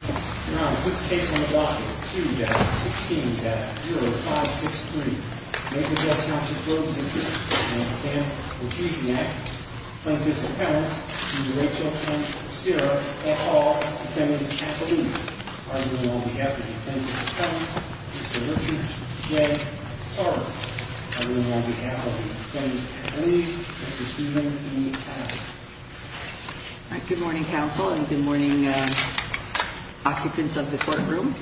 Now, this case on the block is 2-16-0563. Naperville Township Road District and the Stamp Refusing Act. Plaintiff's Appellant, Mr. Rachel Ossyra, et al. Defendant's Appellant. Argument on behalf of the Defendant's Appellant, Mr. Richard J. Tarver. Argument on behalf of the Defendant's Appellant, Mr. Stephen E. Allen. Good morning, counsel, and good morning, occupants of the courtroom.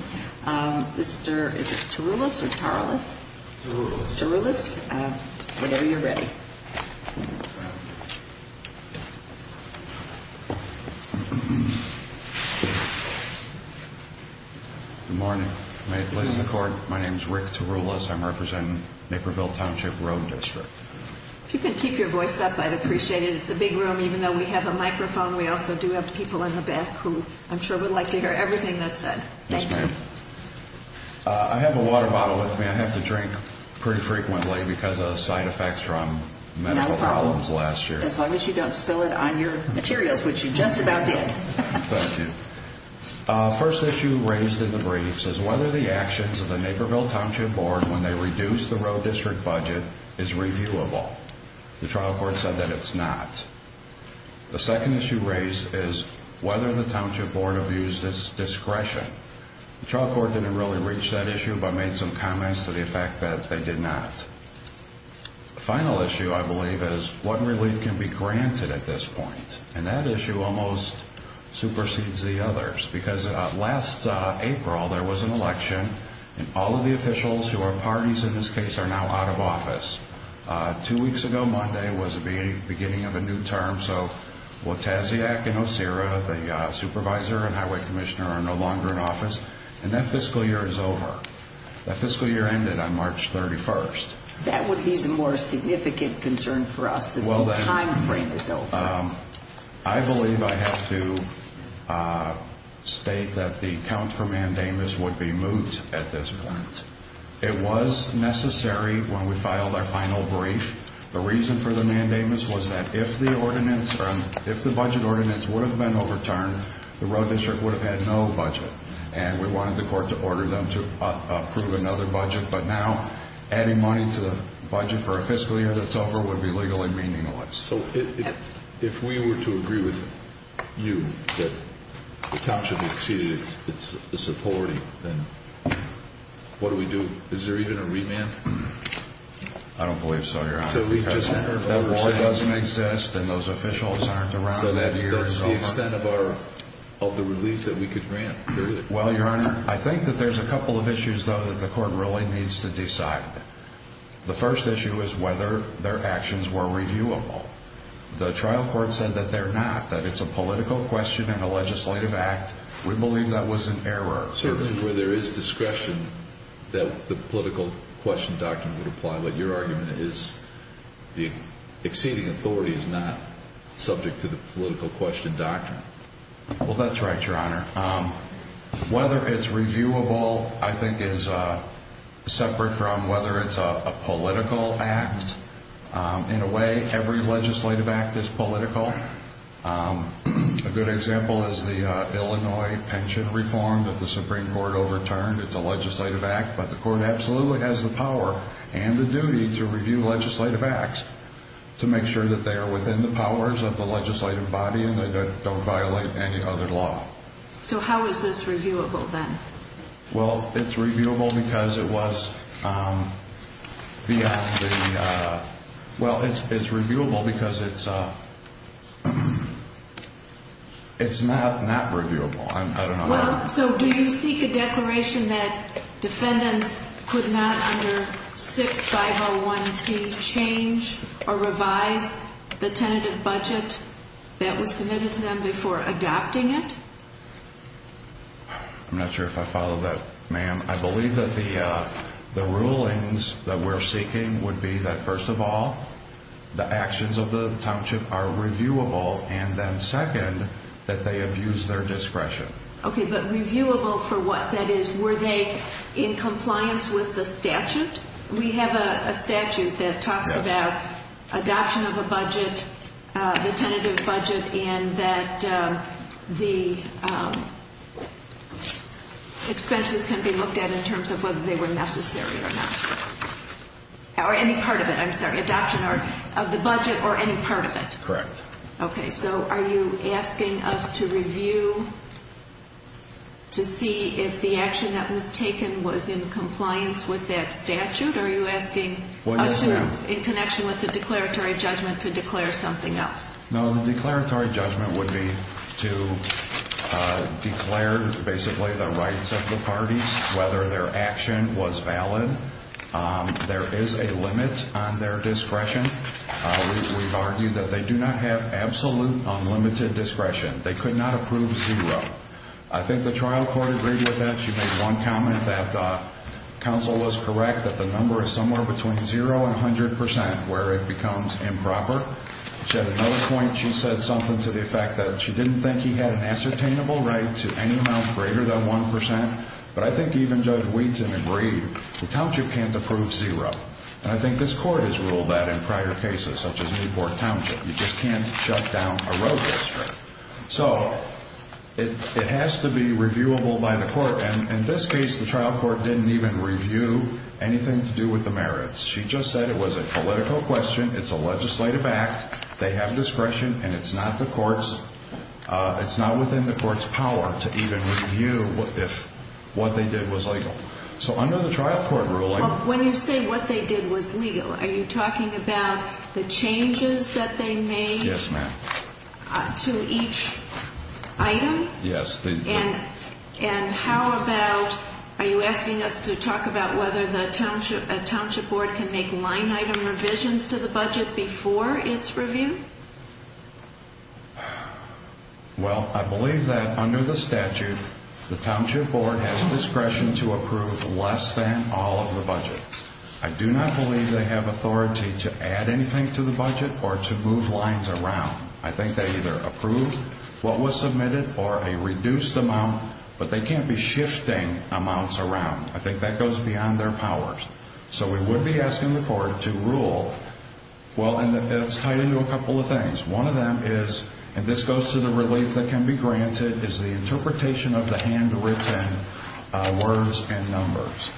Mr., is it Taroulas or Tarlous? Taroulas. Taroulas. Whenever you're ready. Good morning. Ladies and court, my name is Rick Taroulas. I'm representing Naperville Township Road District. If you can keep your voice up, I'd appreciate it. It's a big room. Even though we have a microphone, we also do have people in the back who I'm sure would like to hear everything that's said. Thank you. Yes, ma'am. I have a water bottle with me. I have to drink pretty frequently because of side effects from medical problems last year. No problem, as long as you don't spill it on your materials, which you just about did. Thank you. First issue raised in the briefs is whether the actions of the Naperville Township Board when they reduced the road district budget is reviewable. The trial court said that it's not. The second issue raised is whether the Township Board abused its discretion. The trial court didn't really reach that issue but made some comments to the effect that they did not. The final issue, I believe, is what relief can be granted at this point? And that issue almost supersedes the others because last April there was an election and all of the officials who are parties in this case are now out of office. Two weeks ago, Monday, was the beginning of a new term. So Wojtasiak and Osiris, the supervisor and highway commissioner, are no longer in office. And that fiscal year is over. That fiscal year ended on March 31st. That would be the more significant concern for us that the time frame is over. I believe I have to state that the account for mandamus would be moved at this point. It was necessary when we filed our final brief. The reason for the mandamus was that if the budget ordinance would have been overturned, the road district would have had no budget. And we wanted the court to order them to approve another budget. But now adding money to the budget for a fiscal year that's over would be legally meaningless. So if we were to agree with you that the town should be exceeded its authority, then what do we do? Is there even a remand? I don't believe so, Your Honor. So we just enter a vote. That doesn't exist and those officials aren't around. So that's the extent of the relief that we could grant, period. Well, Your Honor, I think that there's a couple of issues, though, that the court really needs to decide. The first issue is whether their actions were reviewable. The trial court said that they're not, that it's a political question and a legislative act. We believe that was an error. Certainly where there is discretion that the political question doctrine would apply. But your argument is the exceeding authority is not subject to the political question doctrine. Well, that's right, Your Honor. Whether it's reviewable I think is separate from whether it's a political act. In a way, every legislative act is political. A good example is the Illinois pension reform that the Supreme Court overturned. It's a legislative act, but the court absolutely has the power and the duty to review legislative acts to make sure that they are within the powers of the legislative body and that they don't violate any other law. So how is this reviewable, then? Well, it's reviewable because it was beyond the... Well, it's reviewable because it's not not reviewable. I don't know how... So do you seek a declaration that defendants could not under 6501C change or revise the tentative budget that was submitted to them before adopting it? I'm not sure if I follow that, ma'am. I believe that the rulings that we're seeking would be that, first of all, the actions of the township are reviewable, and then, second, that they abuse their discretion. Okay, but reviewable for what? That is, were they in compliance with the statute? We have a statute that talks about adoption of a budget, the tentative budget, and that the expenses can be looked at in terms of whether they were necessary or not. Or any part of it, I'm sorry, adoption of the budget or any part of it. Correct. Okay, so are you asking us to review to see if the action that was taken was in compliance with that statute? Are you asking us to, in connection with the declaratory judgment, to declare something else? No, the declaratory judgment would be to declare, basically, the rights of the parties, whether their action was valid. There is a limit on their discretion. We've argued that they do not have absolute, unlimited discretion. They could not approve zero. I think the trial court agreed with that. She made one comment that counsel was correct that the number is somewhere between zero and 100% where it becomes improper. She had another point. She said something to the effect that she didn't think he had an ascertainable right to any amount greater than 1%, but I think even Judge Wheaton agreed the township can't approve zero. And I think this court has ruled that in prior cases, such as Newport Township. You just can't shut down a road district. So it has to be reviewable by the court. And in this case, the trial court didn't even review anything to do with the merits. She just said it was a political question, it's a legislative act, they have discretion, and it's not within the court's power to even review if what they did was legal. So under the trial court ruling. When you say what they did was legal, are you talking about the changes that they made? Yes, ma'am. To each item? Yes. And how about, are you asking us to talk about whether the township board can make line item revisions to the budget before its review? Well, I believe that under the statute, the township board has discretion to approve less than all of the budget. I do not believe they have authority to add anything to the budget or to move lines around. I think they either approve what was submitted or a reduced amount, but they can't be shifting amounts around. I think that goes beyond their powers. So we would be asking the court to rule. Well, it's tied into a couple of things. One of them is, and this goes to the relief that can be granted, is the interpretation of the handwritten words and numbers.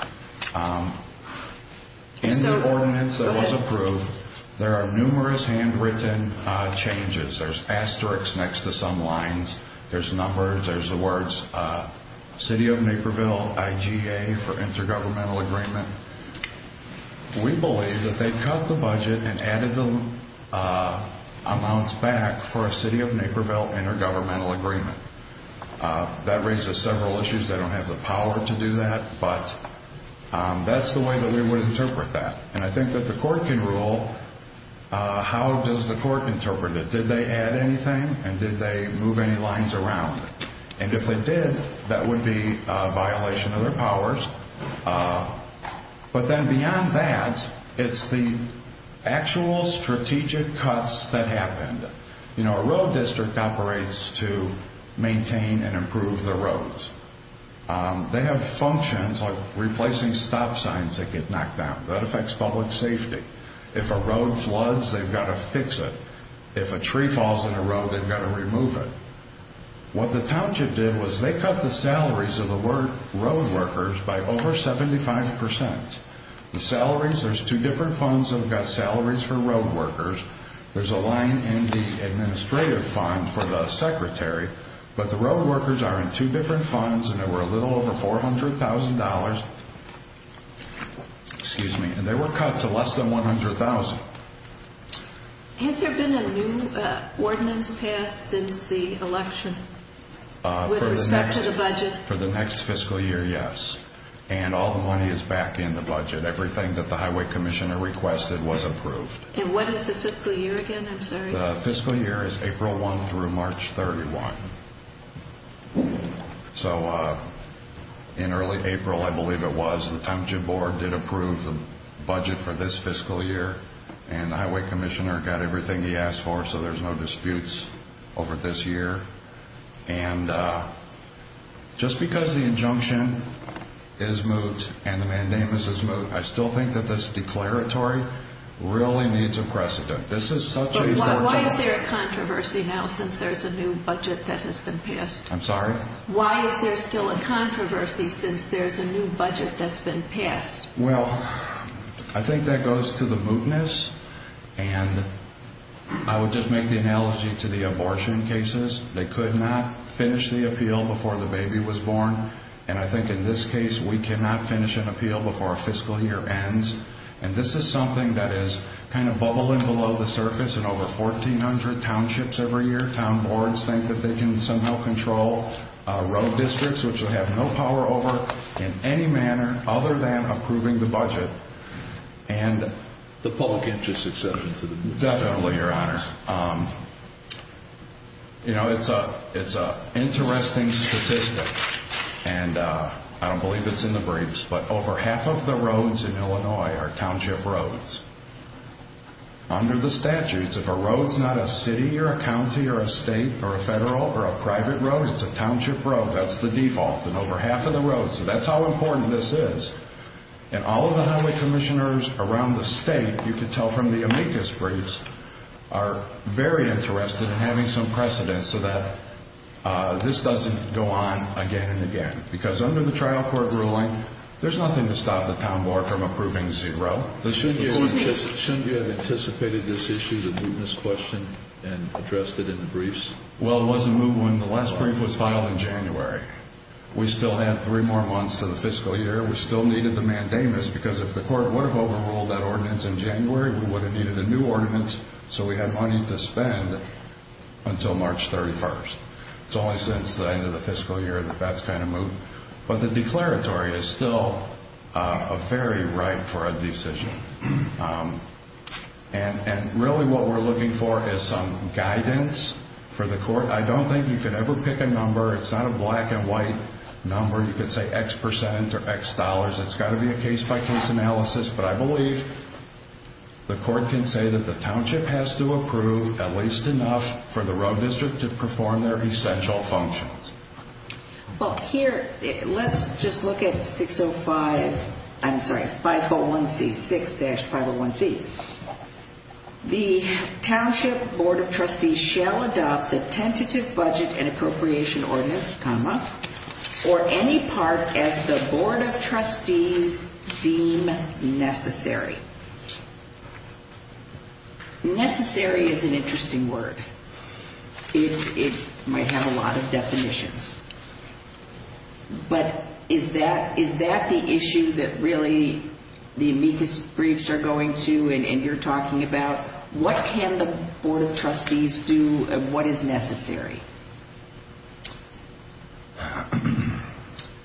In the ordinance that was approved, there are numerous handwritten changes. There's asterisks next to some lines. There's numbers. There's the words, City of Naperville, IGA, for intergovernmental agreement. We believe that they cut the budget and added the amounts back for a City of Naperville intergovernmental agreement. That raises several issues. They don't have the power to do that, but that's the way that we would interpret that. And I think that the court can rule. How does the court interpret it? Did they add anything, and did they move any lines around? And if they did, that would be a violation of their powers. But then beyond that, it's the actual strategic cuts that happened. You know, a road district operates to maintain and improve the roads. They have functions like replacing stop signs that get knocked down. That affects public safety. If a road floods, they've got to fix it. If a tree falls in a road, they've got to remove it. What the township did was they cut the salaries of the road workers by over 75%. The salaries, there's two different funds that have got salaries for road workers. There's a line in the administrative fund for the secretary, but the road workers are in two different funds, and they were a little over $400,000, and they were cut to less than $100,000. Has there been a new ordinance passed since the election with respect to the budget? For the next fiscal year, yes. And all the money is back in the budget. Everything that the highway commissioner requested was approved. And what is the fiscal year again? I'm sorry. The fiscal year is April 1 through March 31. So in early April, I believe it was, the township board did approve the budget for this fiscal year, and the highway commissioner got everything he asked for, so there's no disputes over this year. And just because the injunction is moot and the mandamus is moot, I still think that this declaratory really needs a precedent. But why is there a controversy now since there's a new budget that has been passed? I'm sorry? Why is there still a controversy since there's a new budget that's been passed? Well, I think that goes to the mootness, and I would just make the analogy to the abortion cases. They could not finish the appeal before the baby was born, and I think in this case we cannot finish an appeal before our fiscal year ends. And this is something that is kind of bubbling below the surface in over 1,400 townships every year. Town boards think that they can somehow control road districts, which would have no power over in any manner other than approving the budget. And the public interest, et cetera. Definitely, Your Honor. You know, it's an interesting statistic, and I don't believe it's in the briefs, but over half of the roads in Illinois are township roads. Under the statutes, if a road's not a city or a county or a state or a federal or a private road, it's a township road, that's the default, and over half of the roads. So that's how important this is. And all of the highway commissioners around the state, you could tell from the amicus briefs, are very interested in having some precedent so that this doesn't go on again and again. Because under the trial court ruling, there's nothing to stop the town board from approving zero. Shouldn't you have anticipated this issue, the mootness question, and addressed it in the briefs? Well, it was a move when the last brief was filed in January. We still have three more months to the fiscal year. We still needed the mandamus, because if the court would have overruled that ordinance in January, we would have needed a new ordinance so we had money to spend until March 31st. It's only since the end of the fiscal year that that's kind of moot. But the declaratory is still very ripe for a decision. And really what we're looking for is some guidance for the court. I don't think you could ever pick a number. It's not a black and white number. You could say X percent or X dollars. It's got to be a case-by-case analysis. But I believe the court can say that the township has to approve at least enough for the road district to perform their essential functions. Well, here, let's just look at 605. I'm sorry, 501C, 6-501C. The township board of trustees shall adopt the tentative budget and appropriation ordinance, or any part as the board of trustees deem necessary. Necessary is an interesting word. It might have a lot of definitions. But is that the issue that really the amicus briefs are going to and you're talking about? What can the board of trustees do and what is necessary?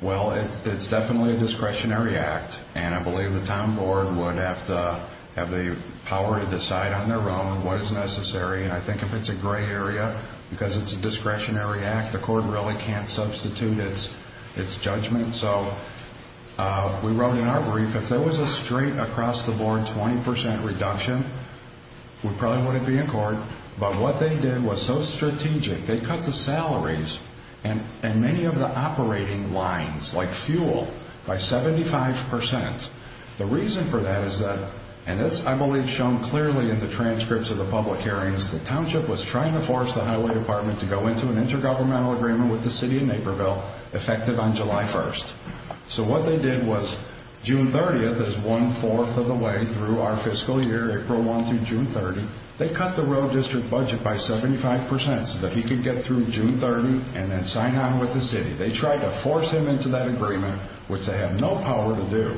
Well, it's definitely a discretionary act. And I believe the town board would have to have the power to decide on their own what is necessary. And I think if it's a gray area, because it's a discretionary act, the court really can't substitute its judgment. So we wrote in our brief, if there was a straight across-the-board 20% reduction, we probably wouldn't be in court. But what they did was so strategic, they cut the salaries and many of the operating lines, like fuel, by 75%. The reason for that is that, and this I believe is shown clearly in the transcripts of the public hearings, the township was trying to force the highway department to go into an intergovernmental agreement with the city of Naperville, effective on July 1st. So what they did was June 30th is one-fourth of the way through our fiscal year, April 1 through June 30. They cut the road district budget by 75% so that he could get through June 30 and then sign on with the city. They tried to force him into that agreement, which they have no power to do,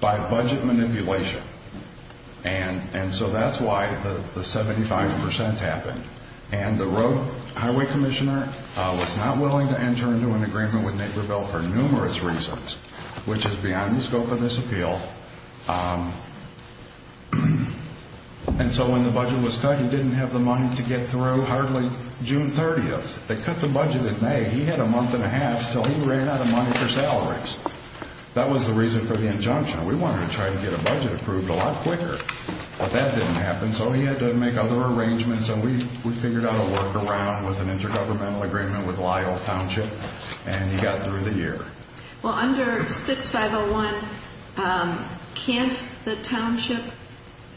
by budget manipulation. And so that's why the 75% happened. And the road highway commissioner was not willing to enter into an agreement with Naperville for numerous reasons, which is beyond the scope of this appeal. And so when the budget was cut, he didn't have the money to get through hardly June 30th. They cut the budget in May. He had a month and a half until he ran out of money for salaries. That was the reason for the injunction. We wanted to try to get a budget approved a lot quicker, but that didn't happen. So he had to make other arrangements, and we figured out a workaround with an intergovernmental agreement with Lyle Township, and he got through the year. Well, under 6501, can't the township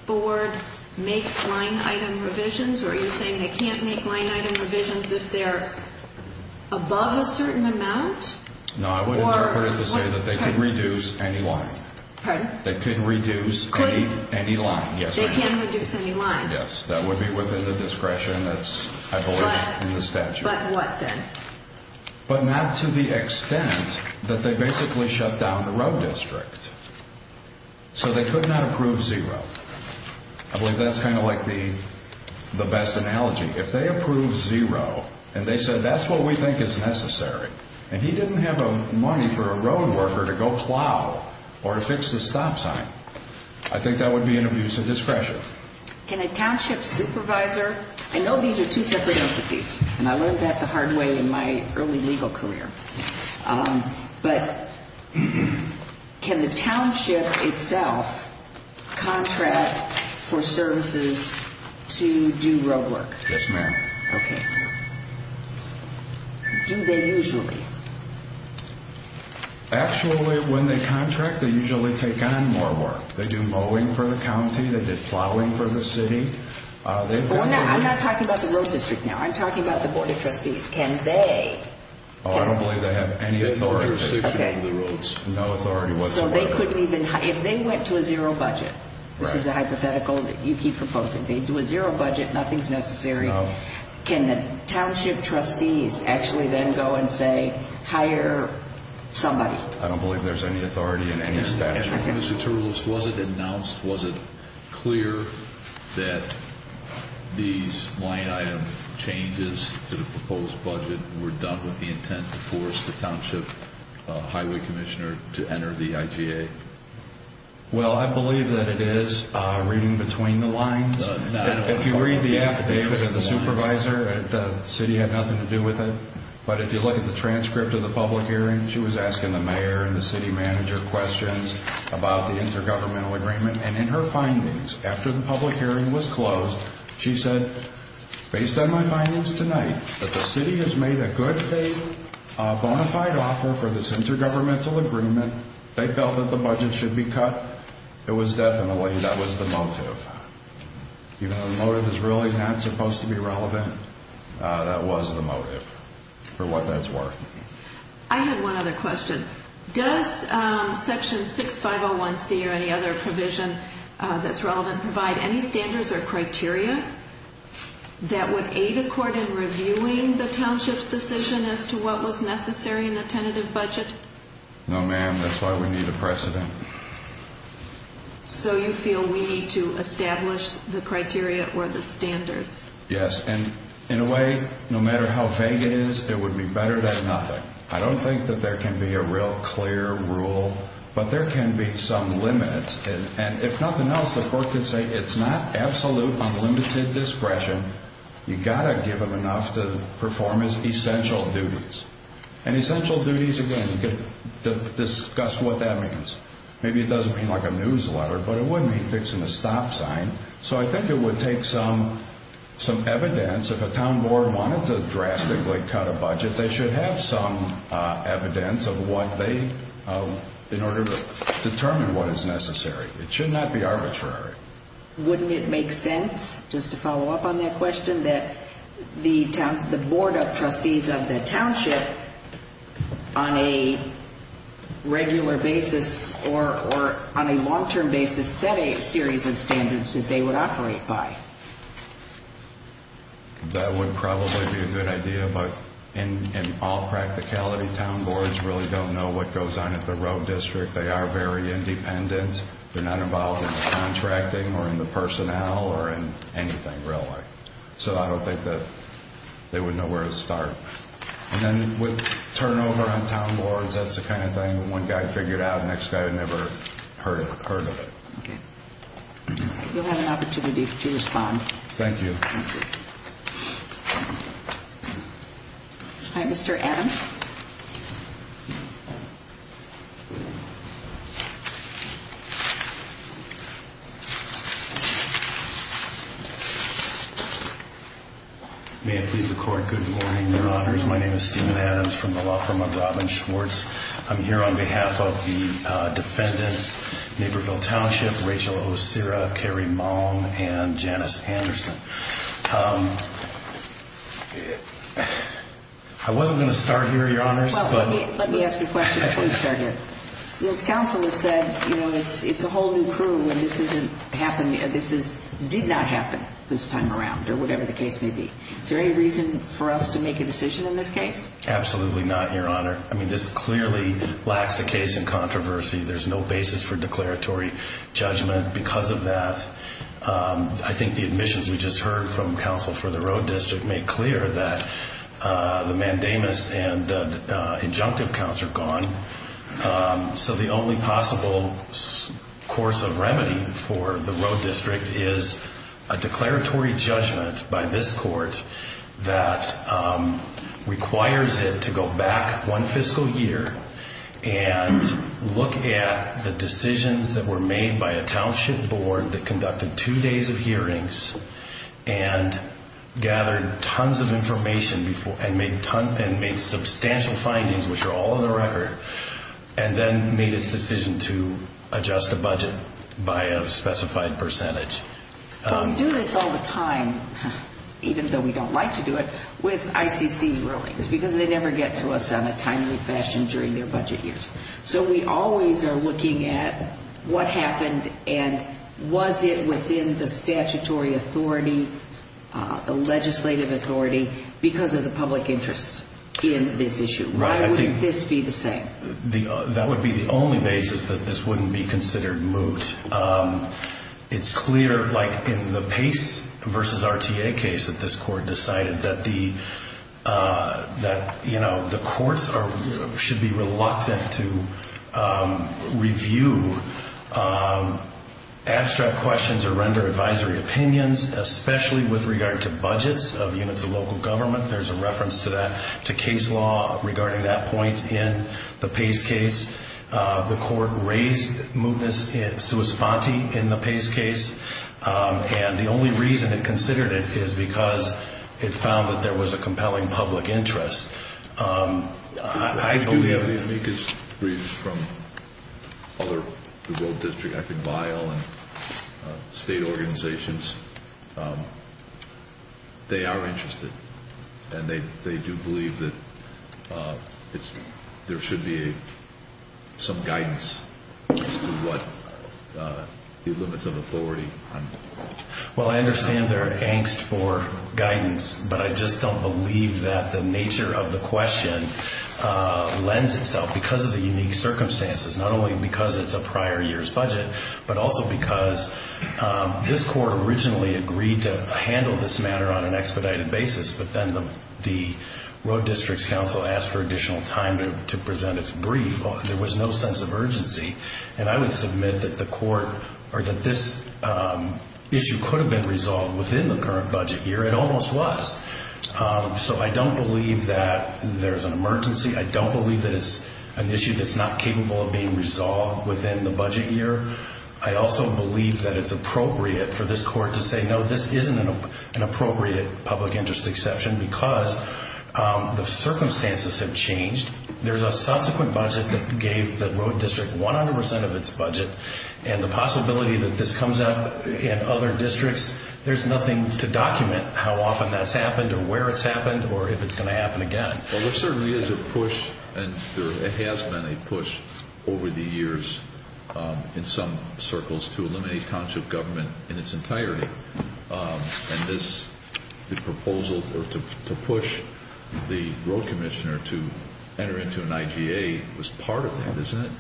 board make line-item revisions, or are you saying they can't make line-item revisions if they're above a certain amount? No, I would interpret it to say that they can reduce any line. Pardon? They can reduce any line, yes. They can reduce any line. Yes, that would be within the discretion that's, I believe, in the statute. But what then? But not to the extent that they basically shut down the road district. So they could not approve zero. I believe that's kind of like the best analogy. If they approve zero and they said, that's what we think is necessary, and he didn't have money for a road worker to go plow or to fix the stop sign, I think that would be an abuse of discretion. Can a township supervisor, I know these are two separate entities, and I learned that the hard way in my early legal career, but can the township itself contract for services to do road work? Yes, ma'am. Okay. Do they usually? Actually, when they contract, they usually take on more work. They do mowing for the county. They did plowing for the city. I'm not talking about the road district now. I'm talking about the board of trustees. Can they? I don't believe they have any authority over the roads. No authority whatsoever. So they couldn't even, if they went to a zero budget, this is a hypothetical that you keep proposing, they do a zero budget, nothing's necessary, can the township trustees actually then go and say, hire somebody? I don't believe there's any authority in any statute. Mr. Turles, was it announced, was it clear that these line item changes to the proposed budget were done with the intent to force the township highway commissioner to enter the IGA? Well, I believe that it is reading between the lines. If you read the affidavit of the supervisor, the city had nothing to do with it. But if you look at the transcript of the public hearing, she was asking the mayor and the city manager questions about the intergovernmental agreement. And in her findings, after the public hearing was closed, she said, based on my findings tonight, that the city has made a good faith bona fide offer for this intergovernmental agreement. They felt that the budget should be cut. It was definitely, that was the motive. Even though the motive is really not supposed to be relevant, that was the motive for what that's worth. I had one other question. Does Section 6501C or any other provision that's relevant provide any standards or criteria that would aid a court in reviewing the township's decision as to what was necessary in the tentative budget? No, ma'am. That's why we need a precedent. So you feel we need to establish the criteria or the standards? Yes. And in a way, no matter how vague it is, it would be better than nothing. I don't think that there can be a real clear rule, but there can be some limit. And if nothing else, the court could say it's not absolute, unlimited discretion. You've got to give him enough to perform his essential duties. And essential duties, again, discuss what that means. Maybe it doesn't mean like a newsletter, but it would mean fixing a stop sign. So I think it would take some evidence. If a town board wanted to drastically cut a budget, they should have some evidence of what they, in order to determine what is necessary. It should not be arbitrary. Wouldn't it make sense, just to follow up on that question, that the Board of Trustees of the township on a regular basis or on a long-term basis set a series of standards that they would operate by? That would probably be a good idea. But in all practicality, town boards really don't know what goes on at the road district. They are very independent. They're not involved in the contracting or in the personnel or in anything, really. So I don't think that they would know where to start. And then with turnover on town boards, that's the kind of thing that one guy figured out, the next guy had never heard of it. Okay. You'll have an opportunity to respond. Thank you. Thank you. All right, Mr. Adams. May it please the Court, good morning, Your Honors. My name is Stephen Adams from the law firm of Robin Schwartz. I'm here on behalf of the defendants, Naperville Township, Rachel Osura, Carrie Maung, and Janice Anderson. I wasn't going to start here, Your Honors. Well, let me ask you a question before you start here. Since counsel has said, you know, it's a whole new crew and this didn't happen, this did not happen this time around or whatever the case may be, is there any reason for us to make a decision in this case? Absolutely not, Your Honor. I mean, this clearly lacks a case in controversy. There's no basis for declaratory judgment because of that. I think the admissions we just heard from counsel for the road district made clear that the mandamus and injunctive counts are gone. So the only possible course of remedy for the road district is a declaratory judgment by this court that requires it to go back one fiscal year and look at the decisions that were made by a township board that conducted two days of hearings and gathered tons of information and made substantial findings, which are all in the record, and then made its decision to adjust the budget by a specified percentage. But we do this all the time, even though we don't like to do it, with ICC rulings because they never get to us on a timely fashion during their budget years. So we always are looking at what happened and was it within the statutory authority, the legislative authority, because of the public interest in this issue. Why wouldn't this be the same? That would be the only basis that this wouldn't be considered moot. It's clear, like in the Pace v. RTA case that this court decided, that the courts should be reluctant to review abstract questions or render advisory opinions, especially with regard to budgets of units of local government. There's a reference to that, to case law regarding that point in the Pace case. The court raised mootness sui sponte in the Pace case, and the only reason it considered it is because it found that there was a compelling public interest. I believe... If we could read from other, the World District, I think, and they do believe that there should be some guidance as to what the limits of authority are. Well, I understand their angst for guidance, but I just don't believe that the nature of the question lends itself because of the unique circumstances, not only because it's a prior year's budget, but also because this court originally agreed to handle this matter on an expedited basis, but then the Road District's counsel asked for additional time to present its brief. There was no sense of urgency, and I would submit that this issue could have been resolved within the current budget year. It almost was. So I don't believe that there's an emergency. I don't believe that it's an issue that's not capable of being resolved within the budget year. I also believe that it's appropriate for this court to say, you know, this isn't an appropriate public interest exception because the circumstances have changed. There's a subsequent budget that gave the Road District 100% of its budget, and the possibility that this comes up in other districts, there's nothing to document how often that's happened or where it's happened or if it's going to happen again. Well, there certainly is a push, and there has been a push over the years in some circles to eliminate township government in its entirety. And this proposal to push the road commissioner to enter into an IGA was part of that, isn't it?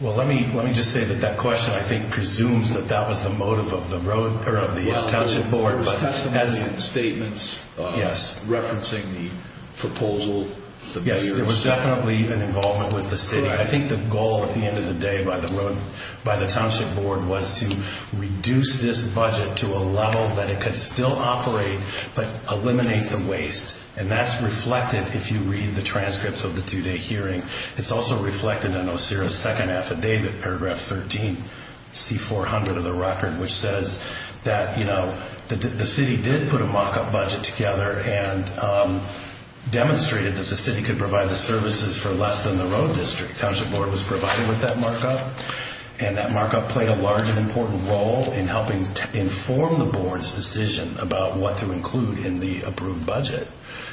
Well, let me just say that that question, I think, presumes that that was the motive of the township board. But as in statements referencing the proposal. Yes, there was definitely even involvement with the city. I think the goal at the end of the day by the township board was to reduce this budget to a level that it could still operate but eliminate the waste. And that's reflected if you read the transcripts of the two-day hearing. It's also reflected in OCIRA's second affidavit, paragraph 13, C400 of the record, which says that the city did put a mock-up budget together and demonstrated that the city could provide the services for less than the road district. Township board was provided with that mock-up, and that mock-up played a large and important role in helping to inform the board's decision about what to include in the approved budget.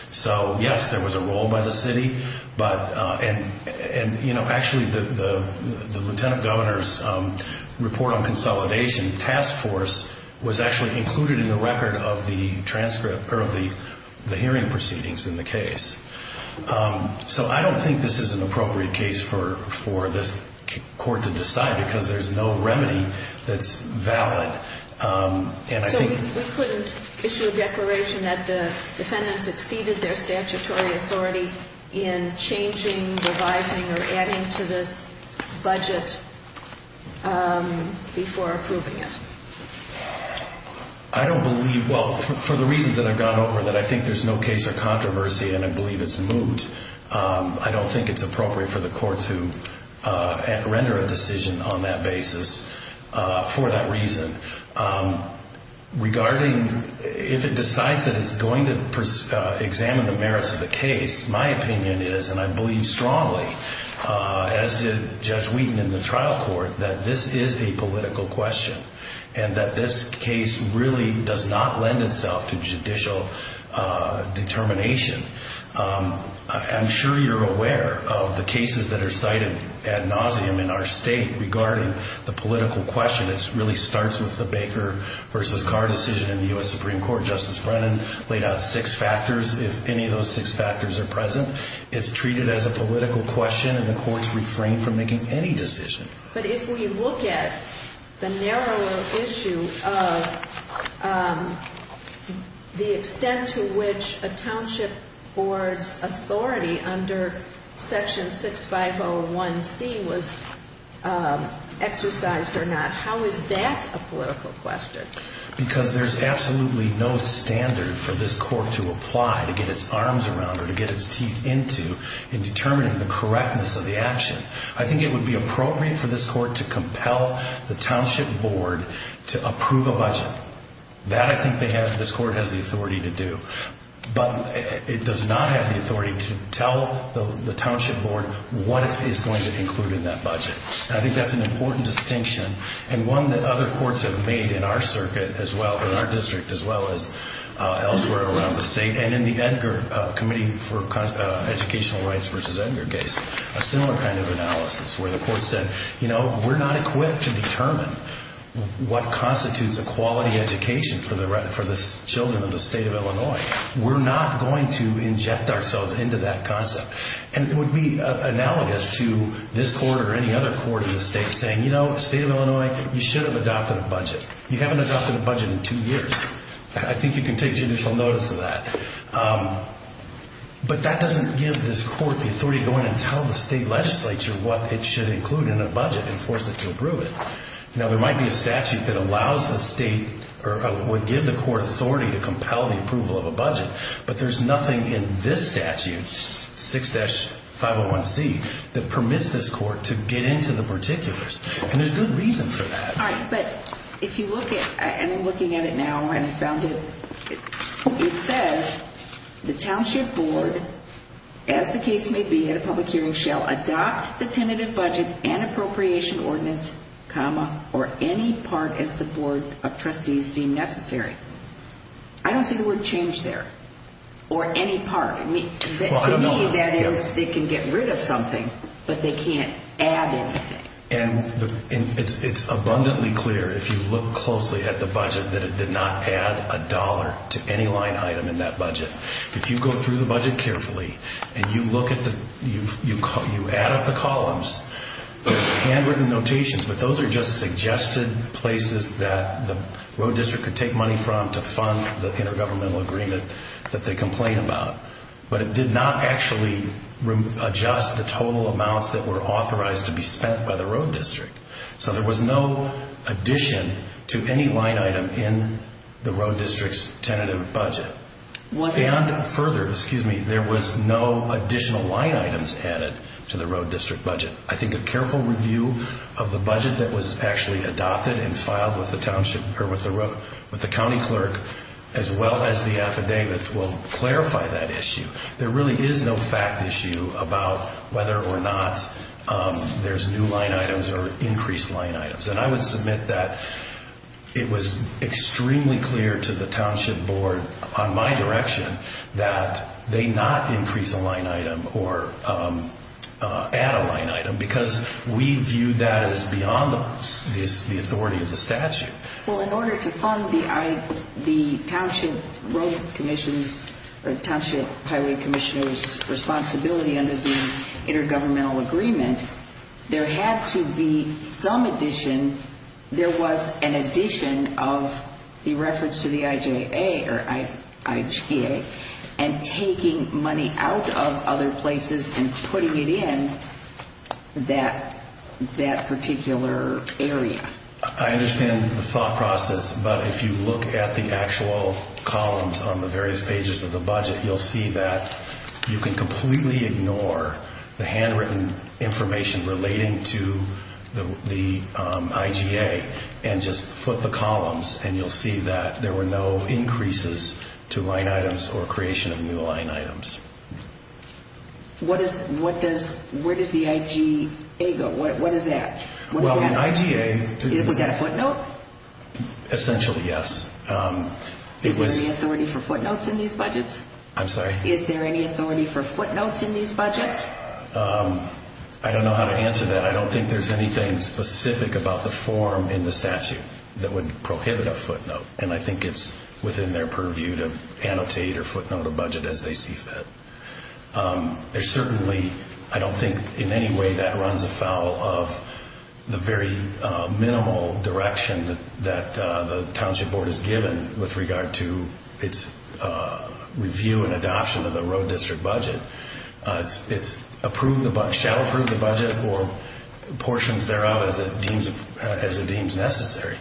So, yes, there was a role by the city, and actually the lieutenant governor's report on consolidation task force was actually included in the record of the hearing proceedings in the case. So I don't think this is an appropriate case for this court to decide because there's no remedy that's valid. And I think... So we couldn't issue a declaration that the defendants exceeded their statutory authority in changing, revising, or adding to this budget before approving it? I don't believe, well, for the reasons that I've gone over, that I think there's no case or controversy, and I believe it's moot. I don't think it's appropriate for the court to render a decision on that basis for that reason. If it decides that it's going to examine the merits of the case, my opinion is, and I believe strongly, as did Judge Wheaton in the trial court, that this is a political question and that this case really does not lend itself to judicial determination. I'm sure you're aware of the cases that are cited ad nauseum in our state regarding the political question. It really starts with the Baker v. Carr decision in the U.S. Supreme Court. Justice Brennan laid out six factors. If any of those six factors are present, it's treated as a political question, and the courts refrain from making any decision. But if we look at the narrower issue of the extent to which a township board's authority under Section 6501C was exercised or not, how is that a political question? Because there's absolutely no standard for this court to apply to get its arms around or to get its teeth into in determining the correctness of the action. I think it would be appropriate for this court to compel the township board to approve a budget. That, I think, this court has the authority to do. But it does not have the authority to tell the township board what it is going to include in that budget. I think that's an important distinction and one that other courts have made in our circuit as well, in our district as well as elsewhere around the state, and in the Edgar Committee for Educational Rights v. Edgar case, a similar kind of analysis where the court said, you know, we're not equipped to determine what constitutes a quality education for the children of the state of Illinois. We're not going to inject ourselves into that concept. And it would be analogous to this court or any other court in the state saying, you know, the state of Illinois, you should have adopted a budget. You haven't adopted a budget in two years. I think you can take judicial notice of that. But that doesn't give this court the authority to go in and tell the state legislature what it should include in a budget and force it to approve it. Now, there might be a statute that allows the state or would give the court authority to compel the approval of a budget. But there's nothing in this statute, 6-501C, that permits this court to get into the particulars. And there's good reason for that. All right. But if you look at it, and I'm looking at it now and I found it, it says the township board, as the case may be at a public hearing, shall adopt the tentative budget and appropriation ordinance, comma, or any part as the board of trustees deem necessary. I don't see the word change there. Or any part. To me, that is they can get rid of something, but they can't add anything. And it's abundantly clear, if you look closely at the budget, that it did not add a dollar to any line item in that budget. If you go through the budget carefully and you add up the columns, there's handwritten notations, but those are just suggested places that the road district could take money from to fund the intergovernmental agreement that they complain about. But it did not actually adjust the total amounts that were authorized to be spent by the road district. So there was no addition to any line item in the road district's tentative budget. And further, there was no additional line items added to the road district budget. I think a careful review of the budget that was actually adopted and filed with the county clerk, as well as the affidavits, will clarify that issue. There really is no fact issue about whether or not there's new line items or increased line items. And I would submit that it was extremely clear to the township board, on my direction, that they not increase a line item or add a line item because we viewed that as beyond the authority of the statute. Well, in order to fund the township road commission's or township highway commissioner's responsibility under the intergovernmental agreement, there had to be some addition. There was an addition of the reference to the IGA and taking money out of other places and putting it in that particular area. I understand the thought process, but if you look at the actual columns on the various pages of the budget, you'll see that you can completely ignore the handwritten information relating to the IGA and just foot the columns, and you'll see that there were no increases to line items or creation of new line items. Where does the IGA go? What is that? Is that a footnote? Essentially, yes. Is there any authority for footnotes in these budgets? I'm sorry? Is there any authority for footnotes in these budgets? I don't know how to answer that. I don't think there's anything specific about the form in the statute that would prohibit a footnote, and I think it's within their purview to annotate or footnote a budget as they see fit. I don't think in any way that runs afoul of the very minimal direction that the Township Board has given with regard to its review and adoption of the road district budget. It shall approve the budget or portions thereof as it deems necessary.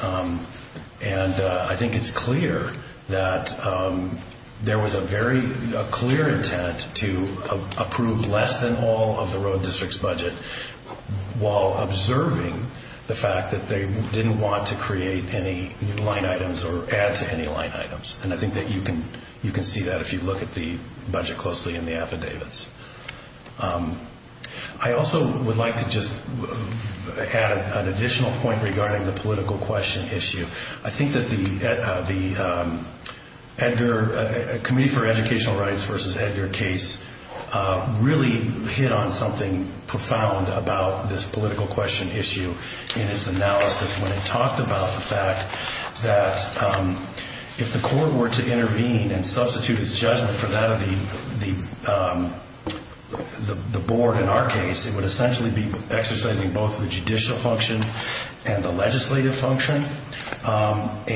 And I think it's clear that there was a very clear intent to approve less than all of the road district's budget while observing the fact that they didn't want to create any line items or add to any line items. And I think that you can see that if you look at the budget closely in the affidavits. I also would like to just add an additional point regarding the political question issue. I think that the Edgar Committee for Educational Rights versus Edgar case really hit on something profound about this political question issue in its analysis when it talked about the fact that if the court were to intervene and substitute its judgment for that of the board in our case, it would essentially be exercising both the judicial function and the legislative function. And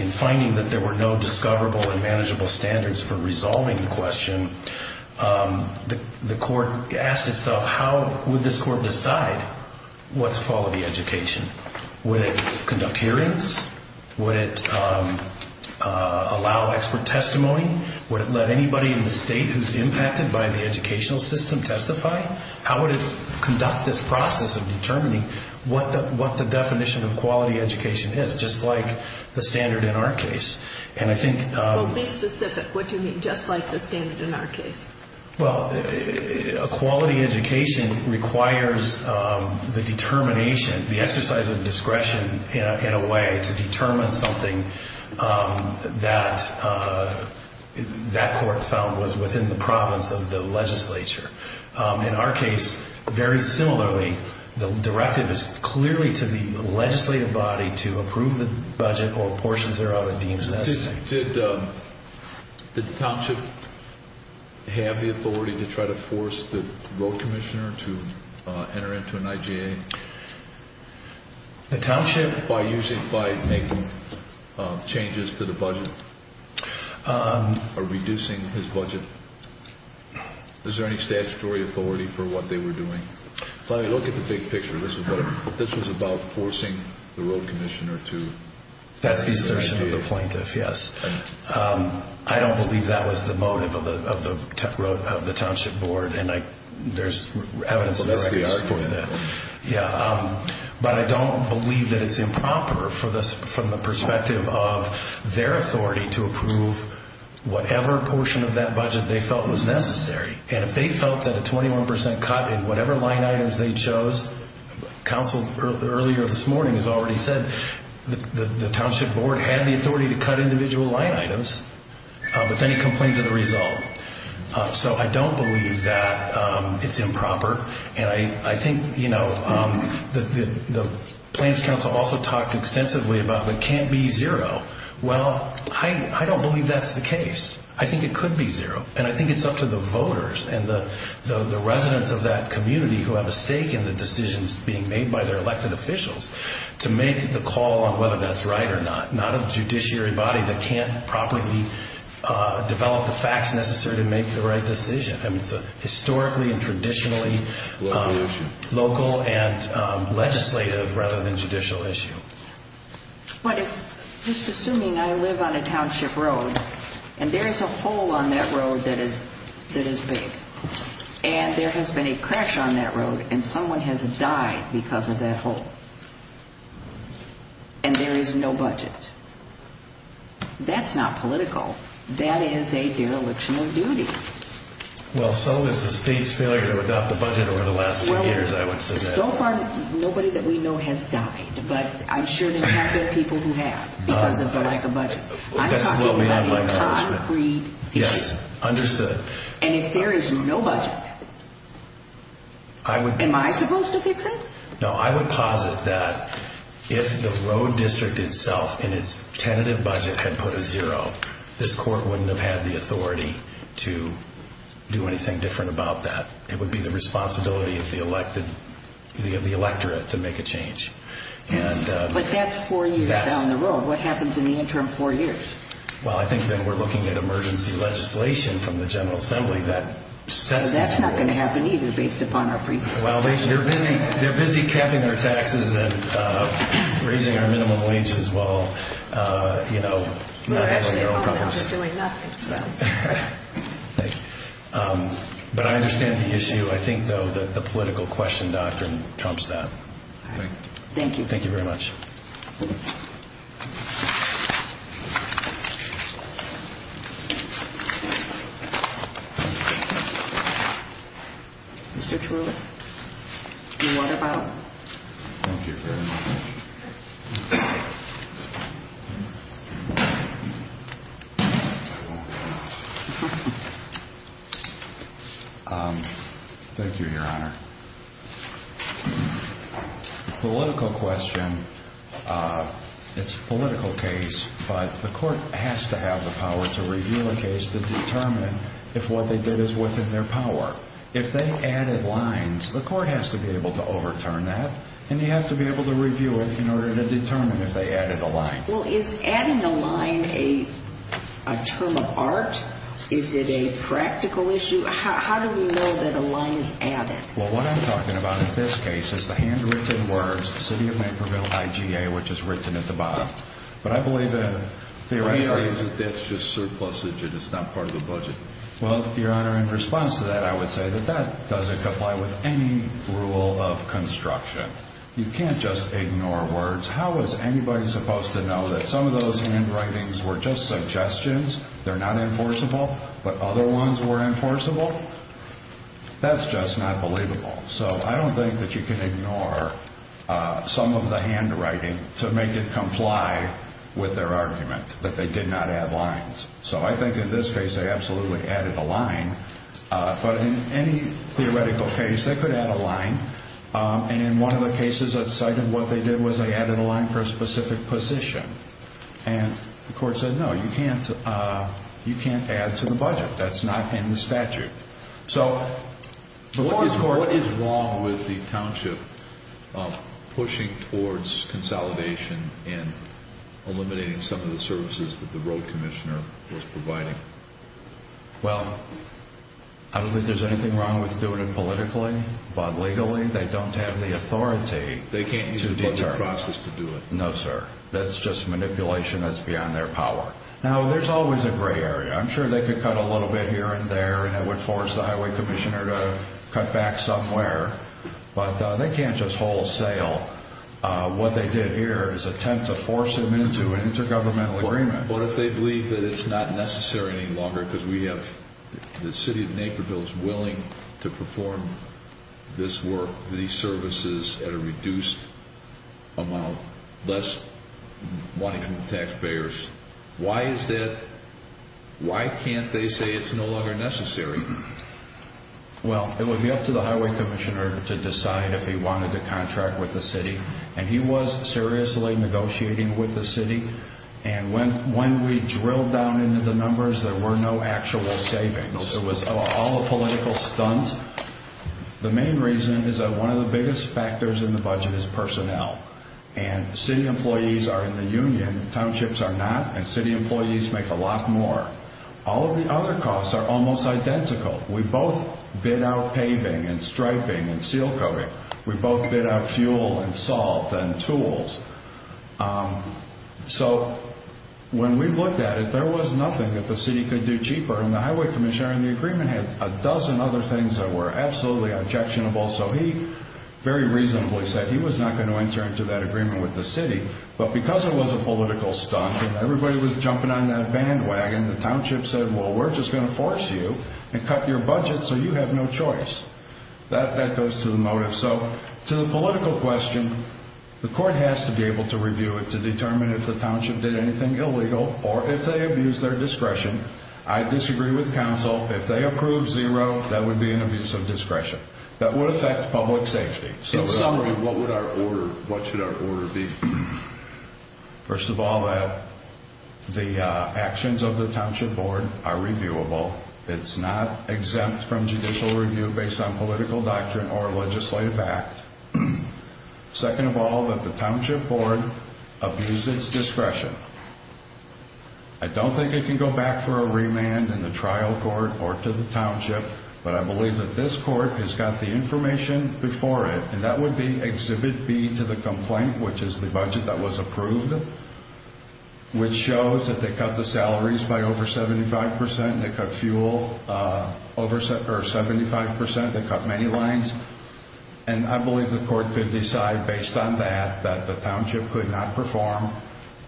in finding that there were no discoverable and manageable standards for resolving the question, the court asked itself, how would this court decide what's quality education? Would it conduct hearings? Would it allow expert testimony? Would it let anybody in the state who's impacted by the educational system testify? How would it conduct this process of determining what the definition of quality education is, just like the standard in our case? And I think... Well, be specific. What do you mean, just like the standard in our case? Well, a quality education requires the determination, the exercise of discretion in a way to determine something that that court found was within the province of the legislature. In our case, very similarly, the directive is clearly to the legislative body to approve the budget or portions thereof it deems necessary. Did the township have the authority to try to force the road commissioner to enter into an IJA? The township... By making changes to the budget or reducing his budget? Is there any statutory authority for what they were doing? If I look at the big picture, this was about forcing the road commissioner to enter an IJA. That's the assertion of the plaintiff, yes. I don't believe that was the motive of the township board, and there's evidence in the record to support that. That's the argument. Yeah. But I don't believe that it's improper from the perspective of their authority to approve whatever portion of that budget they felt was necessary. And if they felt that a 21% cut in whatever line items they chose, counsel earlier this morning has already said, the township board had the authority to cut individual line items with any complaints of the result. So I don't believe that it's improper. And I think the Plains Council also talked extensively about it can't be zero. Well, I don't believe that's the case. I think it could be zero. And I think it's up to the voters and the residents of that community who have a stake in the decisions being made by their elected officials to make the call on whether that's right or not, not a judiciary body that can't properly develop the facts necessary to make the right decision. I mean, it's a historically and traditionally local and legislative rather than judicial issue. But just assuming I live on a township road and there is a hole on that road that is big and there has been a crash on that road and someone has died because of that hole and there is no budget, that's not political. That is a dereliction of duty. Well, so is the state's failure to adopt the budget over the last two years, I would suggest. So far, nobody that we know has died. But I'm sure there are people who have because of the lack of budget. I'm talking about a concrete issue. Yes, understood. And if there is no budget, am I supposed to fix it? No, I would posit that if the road district itself in its tentative budget had put a zero, this court wouldn't have had the authority to do anything different about that. It would be the responsibility of the electorate to make a change. But that's four years down the road. What happens in the interim four years? Well, I think that we're looking at emergency legislation from the General Assembly that sets these rules. But that's not going to happen either based upon our previous assessment. Well, they're busy capping their taxes and raising our minimum wage as well. You know, not having their own problems. They're actually home now. They're doing nothing. But I understand the issue. I think, though, that the political question doctrine trumps that. All right. Thank you. Thank you very much. Thank you. Mr. Trulith. What about? Thank you very much. Thank you, Your Honor. The political question, it's a political case, but the court has to have the power to review a case to determine if what they did is within their power. If they added lines, the court has to be able to overturn that, and you have to be able to review it in order to determine if they added a line. Well, is adding a line a term of art? Is it a practical issue? How do we know that a line is added? Well, what I'm talking about in this case is the handwritten words, City of Naperville, IGA, which is written at the bottom. But I believe that theoretically that's just surplusage and it's not part of the budget. Well, Your Honor, in response to that, I would say that that doesn't comply with any rule of construction. You can't just ignore words. How is anybody supposed to know that some of those handwritings were just suggestions, they're not enforceable, but other ones were enforceable? That's just not believable. So I don't think that you can ignore some of the handwriting to make it comply with their argument that they did not add lines. So I think in this case they absolutely added a line, but in any theoretical case they could add a line. And in one of the cases I cited, what they did was they added a line for a specific position. And the court said, no, you can't add to the budget. That's not in the statute. So what is wrong with the township pushing towards consolidation and eliminating some of the services that the road commissioner was providing? Well, I don't think there's anything wrong with doing it politically, but legally they don't have the authority to determine. They can't use the budget process to do it. No, sir. That's just manipulation that's beyond their power. Now, there's always a gray area. I'm sure they could cut a little bit here and there and it would force the highway commissioner to cut back somewhere, but they can't just wholesale. What they did here is attempt to force them into an intergovernmental agreement. What if they believe that it's not necessary any longer because we have the city of Naperville is willing to perform this work, these services, at a reduced amount, less money from the taxpayers? Why is that? Why can't they say it's no longer necessary? Well, it would be up to the highway commissioner to decide if he wanted to contract with the city. And he was seriously negotiating with the city. And when we drilled down into the numbers, there were no actual savings. It was all a political stunt. The main reason is that one of the biggest factors in the budget is personnel. And city employees are in the union, townships are not, and city employees make a lot more. All of the other costs are almost identical. We both bid out paving and striping and seal coating. We both bid out fuel and salt and tools. So when we looked at it, there was nothing that the city could do cheaper, and the highway commissioner in the agreement had a dozen other things that were absolutely objectionable. So he very reasonably said he was not going to enter into that agreement with the city, but because it was a political stunt and everybody was jumping on that bandwagon, the township said, well, we're just going to force you and cut your budget so you have no choice. That goes to the motive. So to the political question, the court has to be able to review it to determine if the township did anything illegal or if they abused their discretion. If they approve zero, that would be an abuse of discretion. That would affect public safety. In summary, what should our order be? First of all, that the actions of the township board are reviewable. It's not exempt from judicial review based on political doctrine or legislative act. Second of all, that the township board abused its discretion. I don't think it can go back for a remand in the trial court or to the township, but I believe that this court has got the information before it, and that would be exhibit B to the complaint, which is the budget that was approved, which shows that they cut the salaries by over 75%. They cut fuel over 75%. They cut many lines. And I believe the court could decide based on that that the township could not perform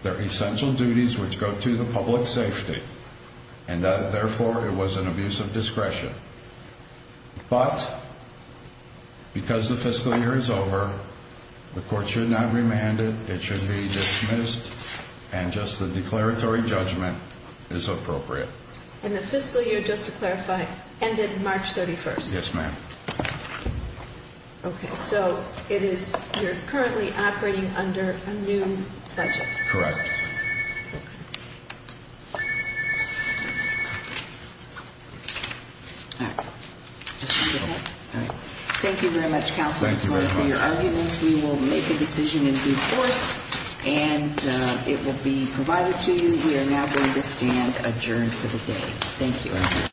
their essential duties which go to the public safety, and therefore it was an abuse of discretion. But because the fiscal year is over, the court should not remand it. It should be dismissed, and just the declaratory judgment is appropriate. And the fiscal year, just to clarify, ended March 31st? Yes, ma'am. Okay, so you're currently operating under a new budget? Correct. Okay, all right. Thank you very much, counsel, for your arguments. Thank you very much. We will make a decision in due course, and it will be provided to you. We are now going to stand adjourned for the day. Thank you.